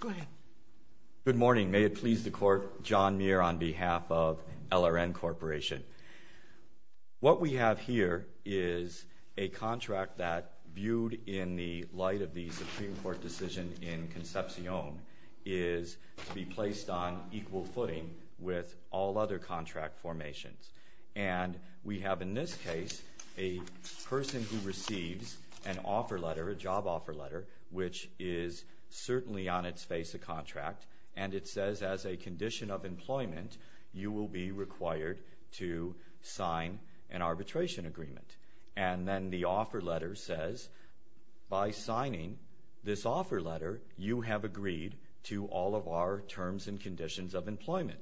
Go ahead. Good morning. May it please the Court, John Muir on behalf of LRN Corporation. What we have here is a contract that, viewed in the light of the Supreme Court decision in Concepcion, is to be placed on equal footing with all other contract formations. And we have, in this case, a person who receives an offer letter, a job offer letter, which is certainly on its face a contract, and it says, as a condition of employment, you will be required to sign an arbitration agreement. And then the offer letter says, by signing this offer letter, you have agreed to all of our terms and conditions of employment,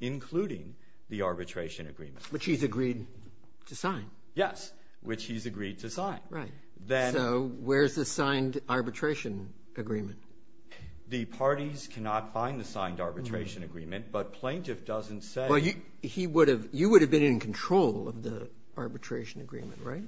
including the arbitration agreement. Which he's agreed to sign. Yes, which he's agreed to sign. Right. So where's the signed arbitration agreement? The parties cannot find the signed arbitration agreement, but plaintiff doesn't say. Well, you would have been in control of the arbitration agreement, right?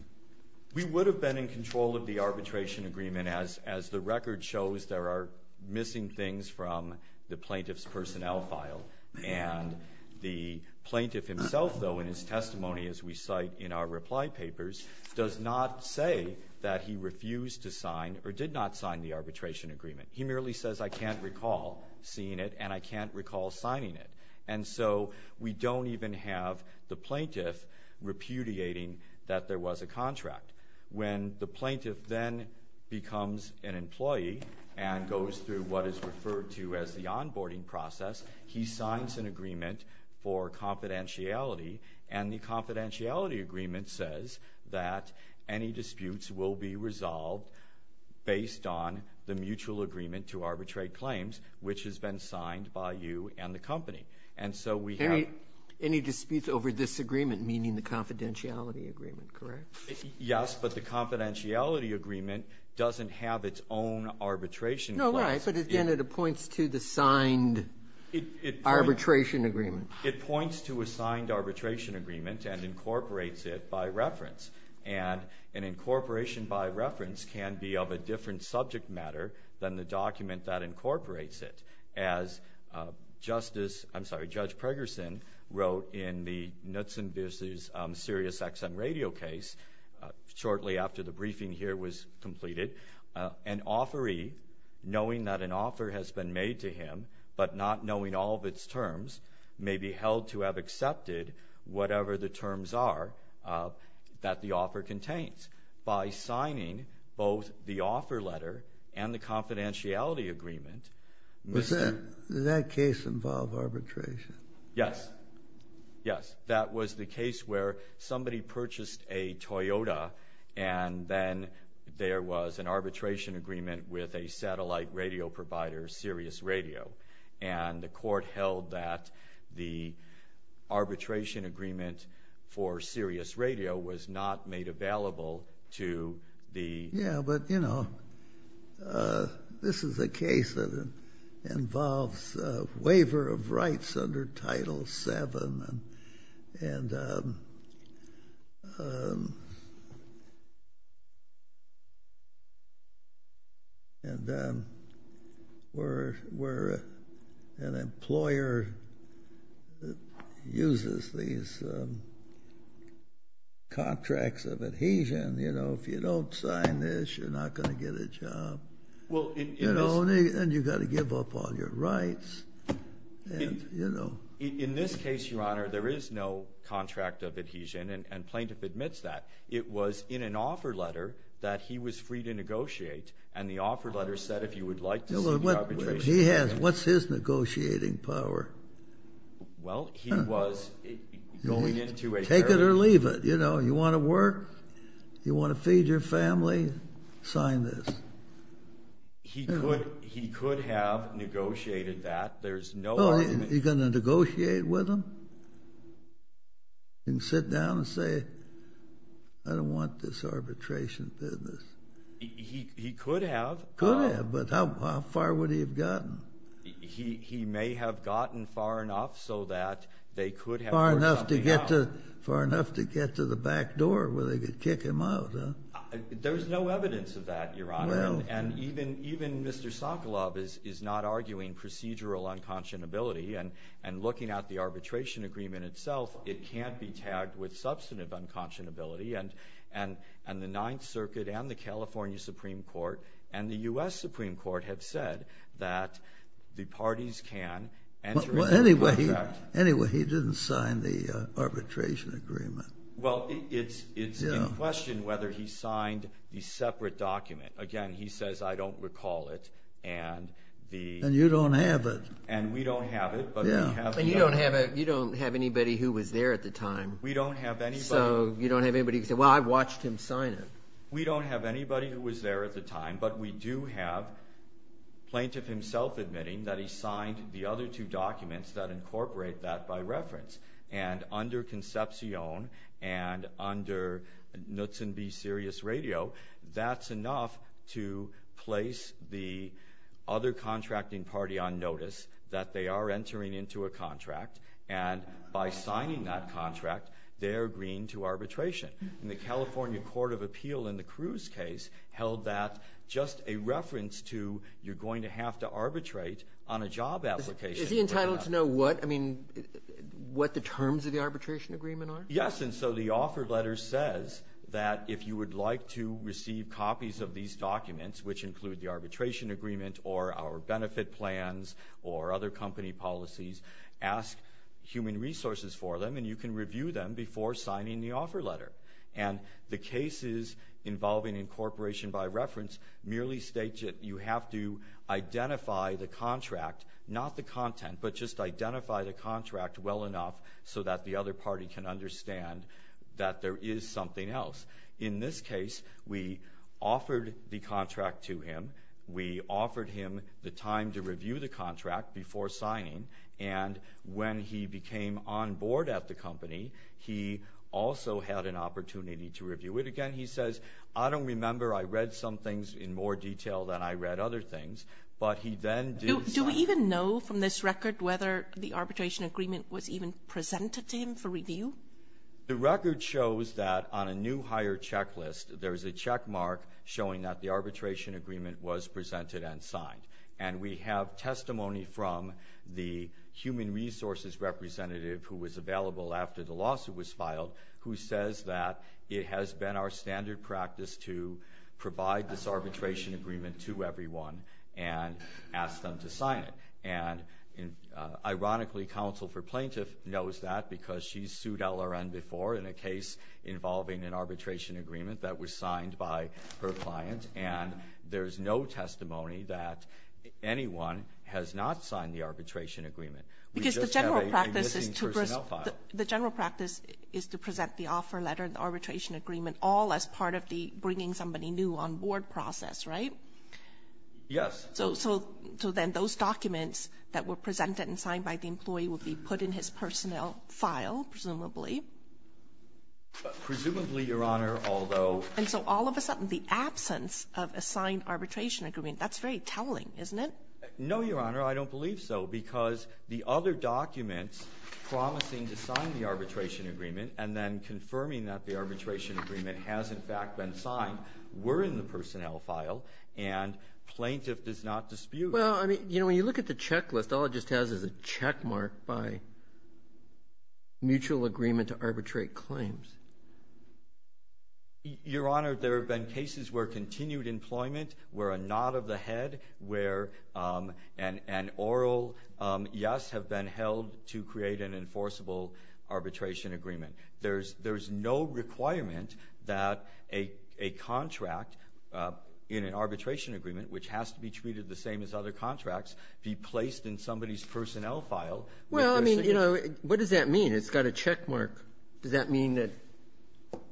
We would have been in control of the arbitration agreement, as the record shows there are missing things from the plaintiff's personnel file. And the plaintiff himself, though, in his testimony, as we cite in our reply papers, does not say that he refused to sign or did not sign the arbitration agreement. He merely says, I can't recall seeing it, and I can't recall signing it. And so we don't even have the plaintiff repudiating that there was a contract. When the plaintiff then becomes an employee and goes through what is referred to as the onboarding process, he signs an agreement for confidentiality, and the confidentiality agreement says that any disputes will be resolved based on the mutual agreement to arbitrate claims, which has been signed by you and the company. And so we have – Any disputes over this agreement, meaning the confidentiality agreement, correct? Yes, but the confidentiality agreement doesn't have its own arbitration claims. No, right, but again, it points to the signed arbitration agreement. It points to a signed arbitration agreement and incorporates it by reference. And an incorporation by reference can be of a different subject matter than the document that incorporates it. As Justice – I'm sorry, Judge Pregerson wrote in the Knutson v. SiriusXM radio case shortly after the briefing here was completed, an authoree, knowing that an offer has been made to him but not knowing all of its terms, may be held to have accepted whatever the terms are that the offer contains. By signing both the offer letter and the confidentiality agreement – Does that case involve arbitration? Yes, yes. That was the case where somebody purchased a Toyota and then there was an arbitration agreement with a satellite radio provider, Sirius Radio, and the court held that the arbitration agreement for Sirius Radio was not made available to the – Yeah, but, you know, this is a case that involves a waiver of rights under Title VII and where an employer uses these contracts of adhesion, you know, if you don't sign this, you're not going to get a job, and you've got to give up all your rights, and, you know. In this case, Your Honor, there is no contract of adhesion, and plaintiff admits that. It was in an offer letter that he was free to negotiate, and the offer letter said if you would like to see the arbitration agreement – He has – what's his negotiating power? Well, he was going into a – Take it or leave it, you know. You want to work? You want to feed your family? Sign this. He could have negotiated that. He's going to negotiate with them and sit down and say, I don't want this arbitration business? He could have. Could have, but how far would he have gotten? He may have gotten far enough so that they could have – Far enough to get to the back door where they could kick him out, huh? There's no evidence of that, Your Honor, and even Mr. Sokolov is not arguing procedural unconscionability, and looking at the arbitration agreement itself, it can't be tagged with substantive unconscionability, and the Ninth Circuit and the California Supreme Court and the U.S. Supreme Court have said that the parties can enter into a contract. Anyway, he didn't sign the arbitration agreement. Well, it's in question whether he signed the separate document. Again, he says, I don't recall it. And you don't have it. And we don't have it. You don't have anybody who was there at the time. We don't have anybody. So you don't have anybody who can say, well, I watched him sign it. We don't have anybody who was there at the time, but we do have plaintiff himself admitting that he signed the other two documents that incorporate that by reference, and under Concepcion and under Knutson v. Sirius Radio, that's enough to place the other contracting party on notice that they are entering into a contract, and by signing that contract, they're agreeing to arbitration. And the California Court of Appeal in the Cruz case held that just a reference to you're going to have to arbitrate on a job application. Is he entitled to know what? I mean, what the terms of the arbitration agreement are? Yes, and so the offer letter says that if you would like to receive copies of these documents, which include the arbitration agreement or our benefit plans or other company policies, ask human resources for them, and you can review them before signing the offer letter. And the cases involving incorporation by reference merely state that you have to identify the contract, not the content, but just identify the contract well enough so that the other party can understand that there is something else. In this case, we offered the contract to him. We offered him the time to review the contract before signing, and when he became on board at the company, he also had an opportunity to review it again. He says, I don't remember I read some things in more detail than I read other things, but he then did sign it. Do we even know from this record whether the arbitration agreement was even presented to him for review? The record shows that on a new hire checklist, there is a checkmark showing that the arbitration agreement was presented and signed. And we have testimony from the human resources representative who was available after the lawsuit was filed who says that it has been our standard practice to provide this arbitration agreement to everyone and ask them to sign it. And ironically, counsel for plaintiff knows that because she's sued LRN before in a case involving an arbitration agreement that was signed by her client, and there's no testimony that anyone has not signed the arbitration agreement. We just have a missing personnel file. Because the general practice is to present the offer letter and the arbitration agreement all as part of the getting somebody new on board process, right? Yes. So then those documents that were presented and signed by the employee would be put in his personnel file, presumably? Presumably, Your Honor, although. And so all of a sudden, the absence of a signed arbitration agreement, that's very telling, isn't it? No, Your Honor, I don't believe so because the other documents promising to sign the arbitration agreement and then confirming that the arbitration agreement has, in fact, been signed were in the personnel file and plaintiff does not dispute. Well, I mean, you know, when you look at the checklist, all it just has is a checkmark by mutual agreement to arbitrate claims. Your Honor, there have been cases where continued employment were a nod of the head where an oral yes have been held to create an enforceable arbitration agreement. There's no requirement that a contract in an arbitration agreement, which has to be treated the same as other contracts, be placed in somebody's personnel file. Well, I mean, you know, what does that mean? It's got a checkmark. Does that mean that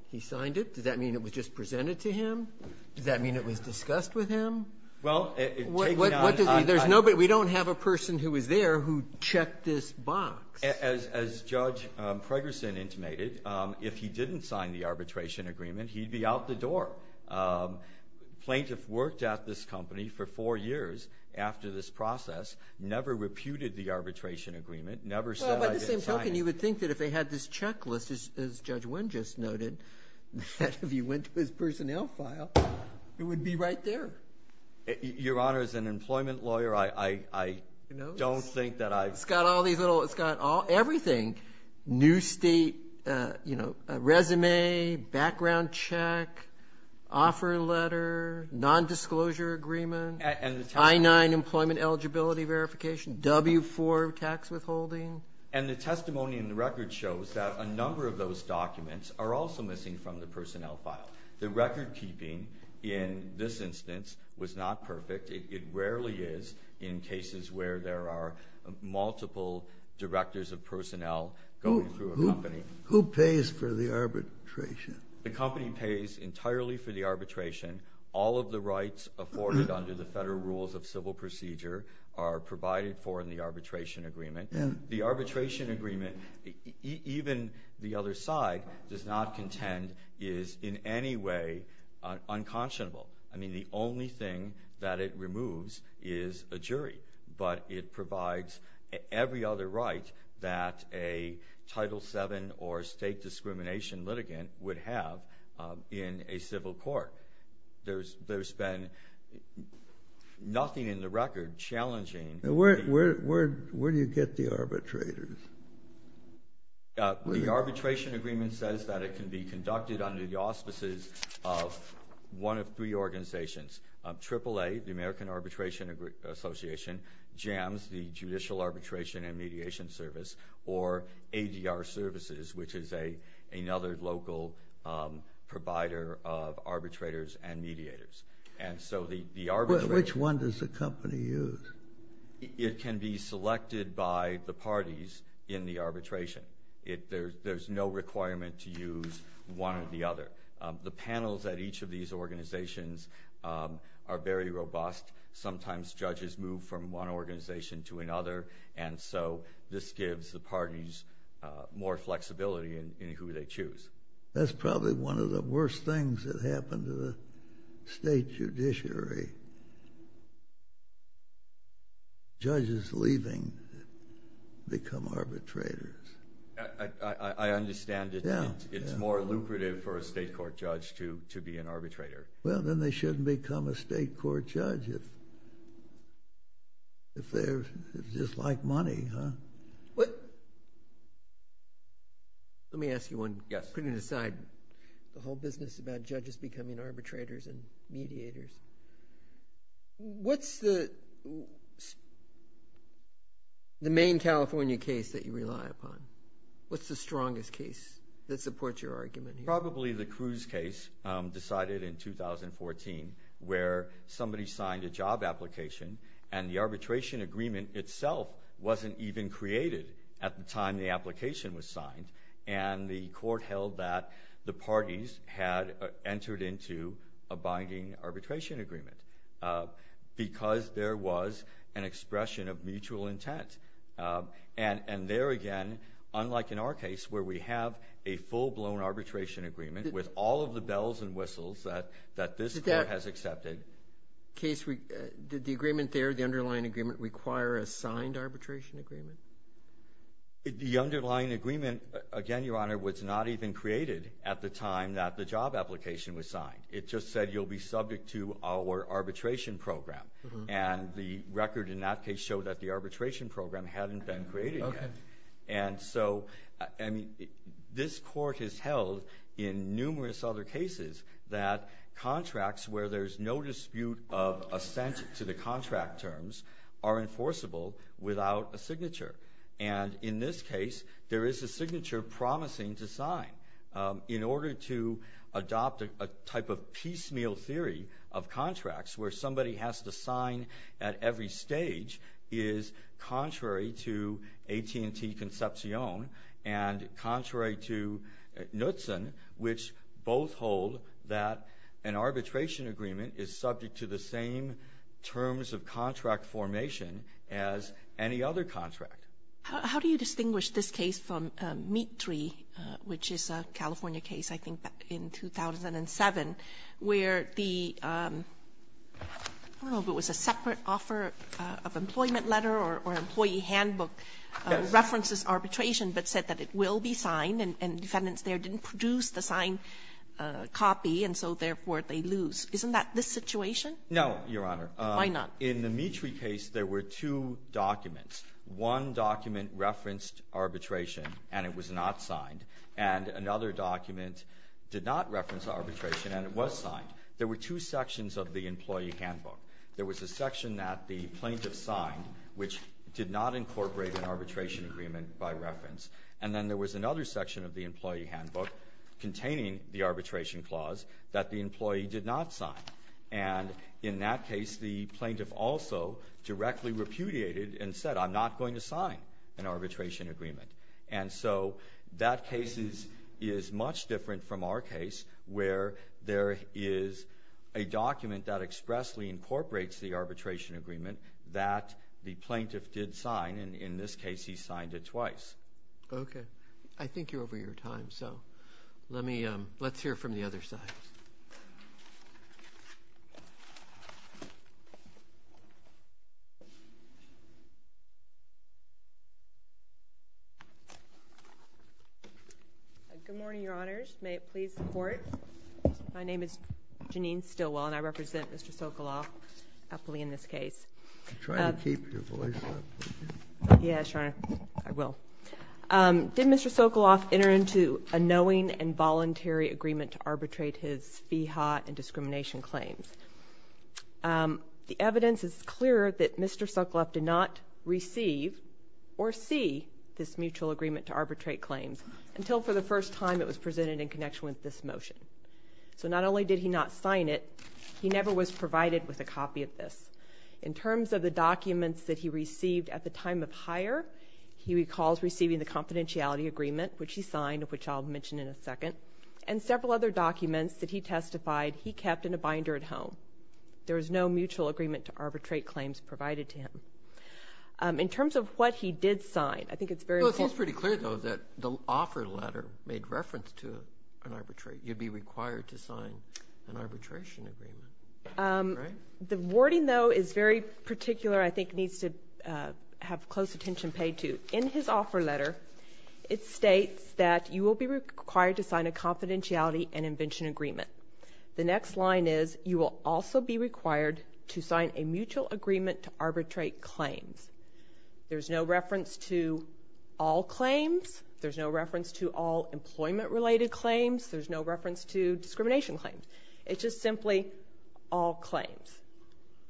he signed it? Does that mean it was just presented to him? Does that mean it was discussed with him? Well, it takes it on. There's nobody. We don't have a person who was there who checked this box. As Judge Preggerson intimated, if he didn't sign the arbitration agreement, he'd be out the door. The plaintiff worked at this company for four years after this process, never reputed the arbitration agreement, never said I didn't sign it. Well, by the same token, you would think that if they had this checklist, as Judge Wynn just noted, that if he went to his personnel file, it would be right there. Your Honor, as an employment lawyer, I don't think that I've ---- It's got all these little ---- it's got everything, new state, you know, resume, background check, offer letter, nondisclosure agreement, I-9 employment eligibility verification, W-4 tax withholding. And the testimony in the record shows that a number of those documents are also missing from the personnel file. The recordkeeping in this instance was not perfect. It rarely is in cases where there are multiple directors of personnel going through a company. Who pays for the arbitration? The company pays entirely for the arbitration. All of the rights afforded under the Federal Rules of Civil Procedure are provided for in the arbitration agreement. And the arbitration agreement, even the other side does not contend is in any way unconscionable. I mean, the only thing that it removes is a jury. But it provides every other right that a Title VII or state discrimination litigant would have in a civil court. There's been nothing in the record challenging ---- Where do you get the arbitrators? The arbitration agreement says that it can be conducted under the auspices of one of three organizations, AAA, the American Arbitration Association, JAMS, the Judicial Arbitration and Mediation Service, or ADR Services, which is another local provider of arbitrators and mediators. Which one does the company use? It can be selected by the parties in the arbitration. There's no requirement to use one or the other. The panels at each of these organizations are very robust. Sometimes judges move from one organization to another, and so this gives the parties more flexibility in who they choose. That's probably one of the worst things that happened to the state judiciary. Judges leaving become arbitrators. I understand it's more lucrative for a state court judge to be an arbitrator. Well, then they shouldn't become a state court judge if they just like money, huh? What? Let me ask you one. Yes. Putting aside the whole business about judges becoming arbitrators and mediators, what's the main California case that you rely upon? What's the strongest case that supports your argument here? Probably the Cruz case decided in 2014 where somebody signed a job application, and the arbitration agreement itself wasn't even created at the time the application was signed, and the court held that the parties had entered into a binding arbitration agreement because there was an expression of mutual intent. And there again, unlike in our case where we have a full-blown arbitration agreement with all of the bells and whistles that this court has accepted. Did the agreement there, the underlying agreement, require a signed arbitration agreement? The underlying agreement, again, Your Honor, was not even created at the time that the job application was signed. It just said you'll be subject to our arbitration program. And the record in that case showed that the arbitration program hadn't been created yet. And so, I mean, this court has held in numerous other cases that contracts where there's no dispute of assent to the contract terms are enforceable without a signature. And in this case, there is a signature promising to sign. In order to adopt a type of piecemeal theory of contracts where somebody has to sign at every stage is contrary to AT&T Concepcion and contrary to Knutson, which both hold that an arbitration agreement is subject to the same terms of contract formation as any other contract. How do you distinguish this case from Mead 3, which is a California case, I think, in 2007, where the – I don't know if it was a separate offer of employment letter or employee handbook references arbitration but said that it will be signed and defendants there didn't produce the signed copy, and so, therefore, they lose. Isn't that this situation? No, Your Honor. Why not? In the Mead 3 case, there were two documents. One document referenced arbitration and it was not signed. And another document did not reference arbitration and it was signed. There were two sections of the employee handbook. There was a section that the plaintiff signed, which did not incorporate an arbitration agreement by reference, and then there was another section of the employee handbook containing the arbitration clause that the employee did not sign. And in that case, the plaintiff also directly repudiated and said, I'm not going to sign an arbitration agreement. And so that case is much different from our case where there is a document that expressly incorporates the arbitration agreement that the plaintiff did sign, and in this case, he signed it twice. Okay. I think you're over your time, so let's hear from the other side. Good morning, Your Honors. May it please the Court. My name is Jeanine Stilwell and I represent Mr. Sokoloff aptly in this case. I'm trying to keep your voice up. Yes, Your Honor. I will. Did Mr. Sokoloff enter into a knowing and voluntary agreement to arbitrate his FIHA and discrimination claims? The evidence is clear that Mr. Sokoloff did not receive or see this mutual agreement to arbitrate claims until for the first time it was presented in connection with this motion. So not only did he not sign it, he never was provided with a copy of this. In terms of the documents that he received at the time of hire, he recalls receiving the confidentiality agreement, which he signed, which I'll mention in a second, and several other documents that he testified he kept in a binder at home. There was no mutual agreement to arbitrate claims provided to him. In terms of what he did sign, I think it's very important. It seems pretty clear, though, that the offer letter made reference to an arbitrate. You'd be required to sign an arbitration agreement, right? The wording, though, is very particular. I think it needs to have close attention paid to. In his offer letter, it states that you will be required to sign a confidentiality and invention agreement. The next line is you will also be required to sign a mutual agreement to arbitrate claims. There's no reference to all claims. There's no reference to all employment-related claims. There's no reference to discrimination claims. It's just simply all claims,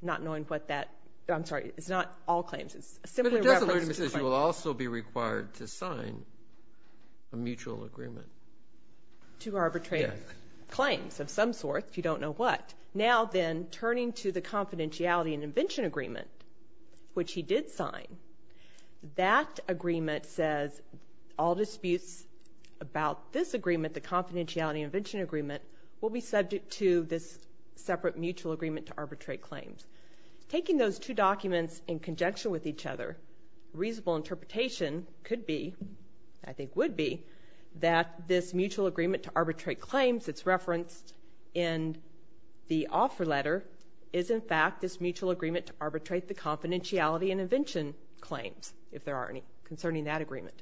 not knowing what that – I'm sorry, it's not all claims. It's simply a reference to claims. But it doesn't say you will also be required to sign a mutual agreement. To arbitrate claims of some sort if you don't know what. Now then, turning to the confidentiality and invention agreement, which he did sign, that agreement says all disputes about this agreement, the confidentiality and invention agreement, will be subject to this separate mutual agreement to arbitrate claims. Taking those two documents in conjunction with each other, reasonable interpretation could be, I think would be, that this mutual agreement to arbitrate claims that's referenced in the offer letter is in fact this mutual agreement to arbitrate the confidentiality and invention claims, if there are any concerning that agreement.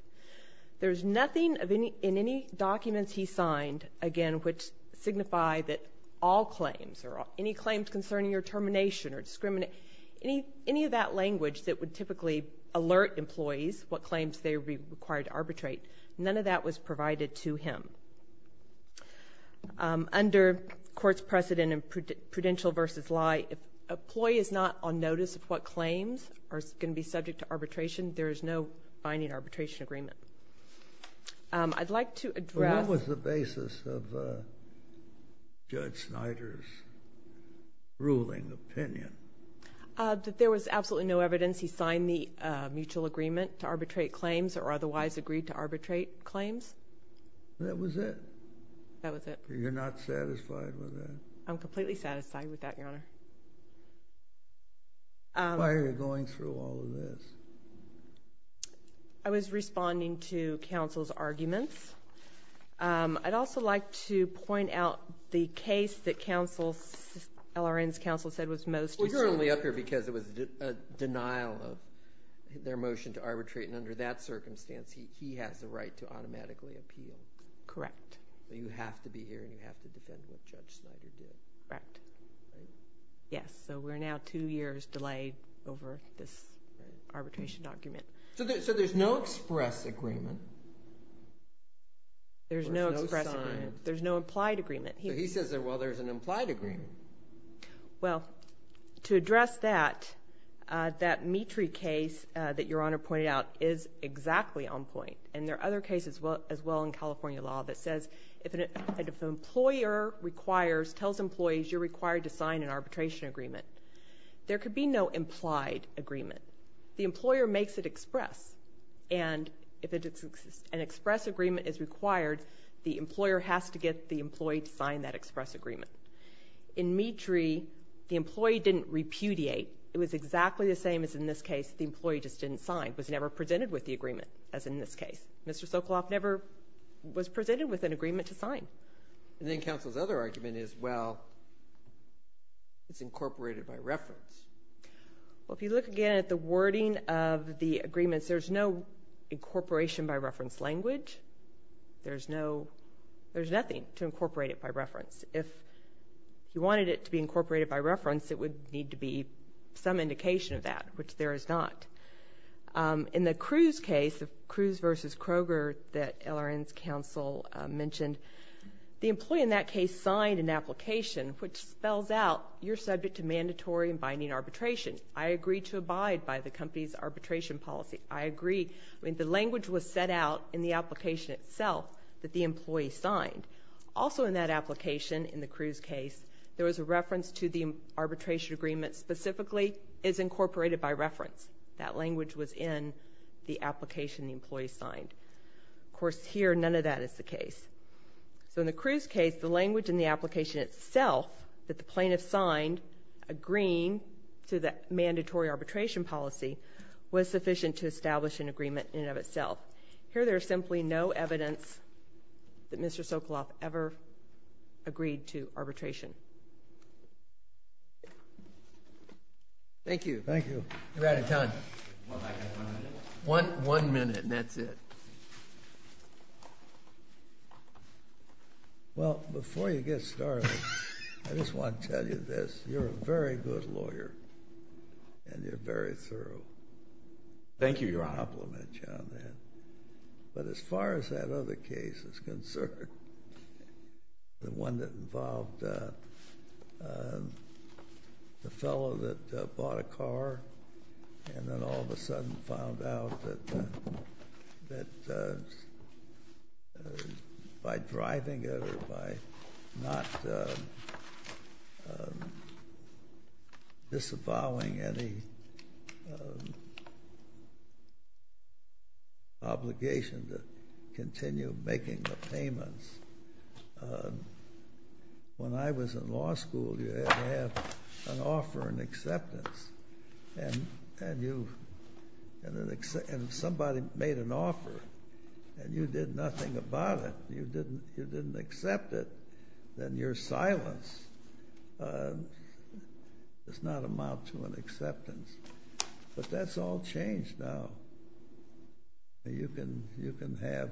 There's nothing in any documents he signed, again, which signify that all claims or any claims concerning your termination or discrimination, any of that language that would typically alert employees what claims they would be required to arbitrate, none of that was provided to him. Under court's precedent in prudential versus lie, if an employee is not on notice of what claims are going to be subject to arbitration, there is no binding arbitration agreement. I'd like to address – Judge Snyder's ruling opinion. There was absolutely no evidence he signed the mutual agreement to arbitrate claims or otherwise agreed to arbitrate claims. That was it? That was it. You're not satisfied with that? I'm completely satisfied with that, Your Honor. Why are you going through all of this? I was responding to counsel's arguments. I'd also like to point out the case that LRN's counsel said was most— Well, you're only up here because it was a denial of their motion to arbitrate, and under that circumstance he has the right to automatically appeal. Correct. You have to be here and you have to defend what Judge Snyder did. Correct. Right? Yes. So we're now two years delayed over this arbitration argument. So there's no express agreement? There's no express agreement. There's no signed? There's no implied agreement. He says, well, there's an implied agreement. Well, to address that, that Meetry case that Your Honor pointed out is exactly on point, and there are other cases as well in California law that says if an employer requires, tells employees you're required to sign an arbitration agreement, there could be no implied agreement. The employer makes it express, and if an express agreement is required, the employer has to get the employee to sign that express agreement. In Meetry, the employee didn't repudiate. It was exactly the same as in this case. The employee just didn't sign, was never presented with the agreement, as in this case. Mr. Sokoloff never was presented with an agreement to sign. And then counsel's other argument is, well, it's incorporated by reference. Well, if you look again at the wording of the agreements, there's no incorporation by reference language. There's nothing to incorporate it by reference. If you wanted it to be incorporated by reference, it would need to be some indication of that, which there is not. In the Cruz case, the Cruz v. Kroger that LRN's counsel mentioned, the employee in that case signed an application, which spells out you're subject to mandatory and binding arbitration. I agree to abide by the company's arbitration policy. I agree. I mean, the language was set out in the application itself that the employee signed. Also in that application, in the Cruz case, there was a reference to the arbitration agreement specifically is incorporated by reference. That language was in the application the employee signed. Of course, here, none of that is the case. So in the Cruz case, the language in the application itself that the plaintiff signed, agreeing to the mandatory arbitration policy, was sufficient to establish an agreement in and of itself. Here, there is simply no evidence that Mr. Sokoloff ever agreed to arbitration. Thank you. Thank you. You're out of time. One minute. One minute, and that's it. Well, before you get started, I just want to tell you this. You're a very good lawyer, and you're very thorough. Thank you, Your Honor. I compliment you on that. But as far as that other case is concerned, the one that involved the fellow that bought a car and then all of a sudden found out that by driving it or by not disavowing any obligation to continue making the payments, when I was in law school, you had to have an offer and acceptance. And if somebody made an offer and you did nothing about it, you didn't accept it, then your silence does not amount to an acceptance. But that's all changed now. You can have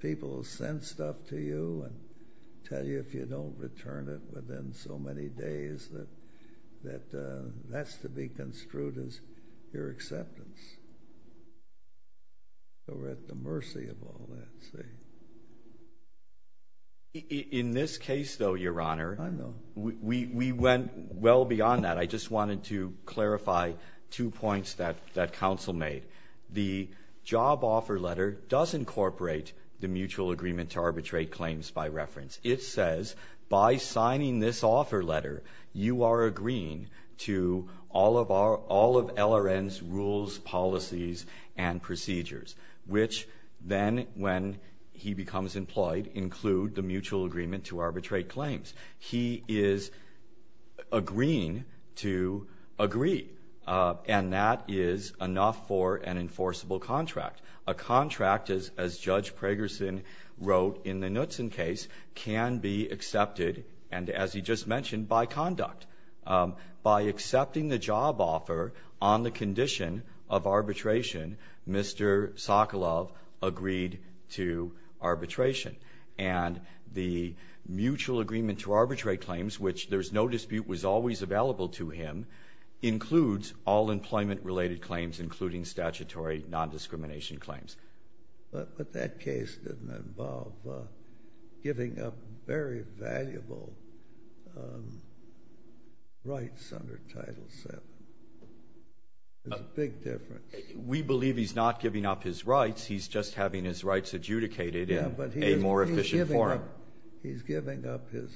people send stuff to you and tell you if you don't return it within so many days that that's to be construed as your acceptance. We're at the mercy of all that. In this case, though, Your Honor, we went well beyond that. I just wanted to clarify two points that counsel made. The job offer letter does incorporate the mutual agreement to arbitrate claims by reference. It says by signing this offer letter, you are agreeing to all of LRN's rules, policies, and procedures, which then, when he becomes employed, include the mutual agreement to arbitrate claims. He is agreeing to agree, and that is enough for an enforceable contract. A contract, as Judge Pragerson wrote in the Knutson case, can be accepted, and as he just mentioned, by conduct. By accepting the job offer on the condition of arbitration, Mr. Sokolov agreed to arbitration. And the mutual agreement to arbitrate claims, which there's no dispute was always available to him, includes all employment-related claims, including statutory nondiscrimination claims. But that case didn't involve giving up very valuable rights under Title VII. There's a big difference. We believe he's not giving up his rights. He's just having his rights adjudicated in a more efficient form. He's giving up his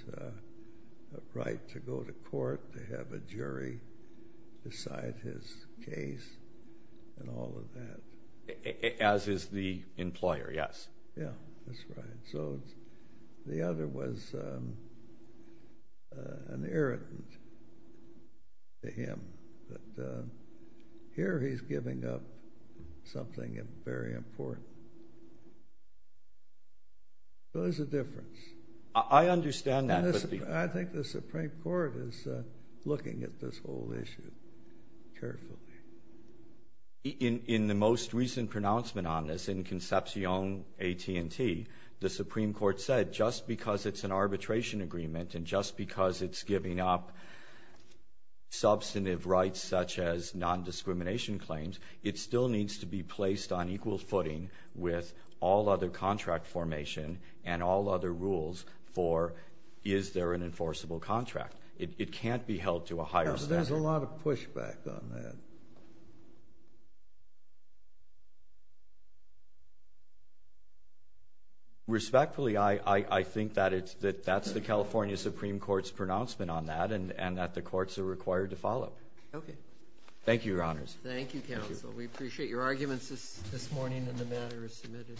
right to go to court, to have a jury decide his case, and all of that. As is the employer, yes. Yeah, that's right. So the other was an irritant to him. But here he's giving up something very important. So there's a difference. I understand that. I think the Supreme Court is looking at this whole issue carefully. In the most recent pronouncement on this in Concepcion AT&T, the Supreme Court said just because it's an arbitration agreement and just because it's giving up substantive rights, such as nondiscrimination claims, it still needs to be placed on equal footing with all other contract formation and all other rules for is there an enforceable contract. It can't be held to a higher standard. There's a lot of pushback on that. Respectfully, I think that that's the California Supreme Court's pronouncement on that and that the courts are required to follow. Thank you, Your Honors. Thank you, Counsel. We appreciate your arguments this morning and the matter is submitted.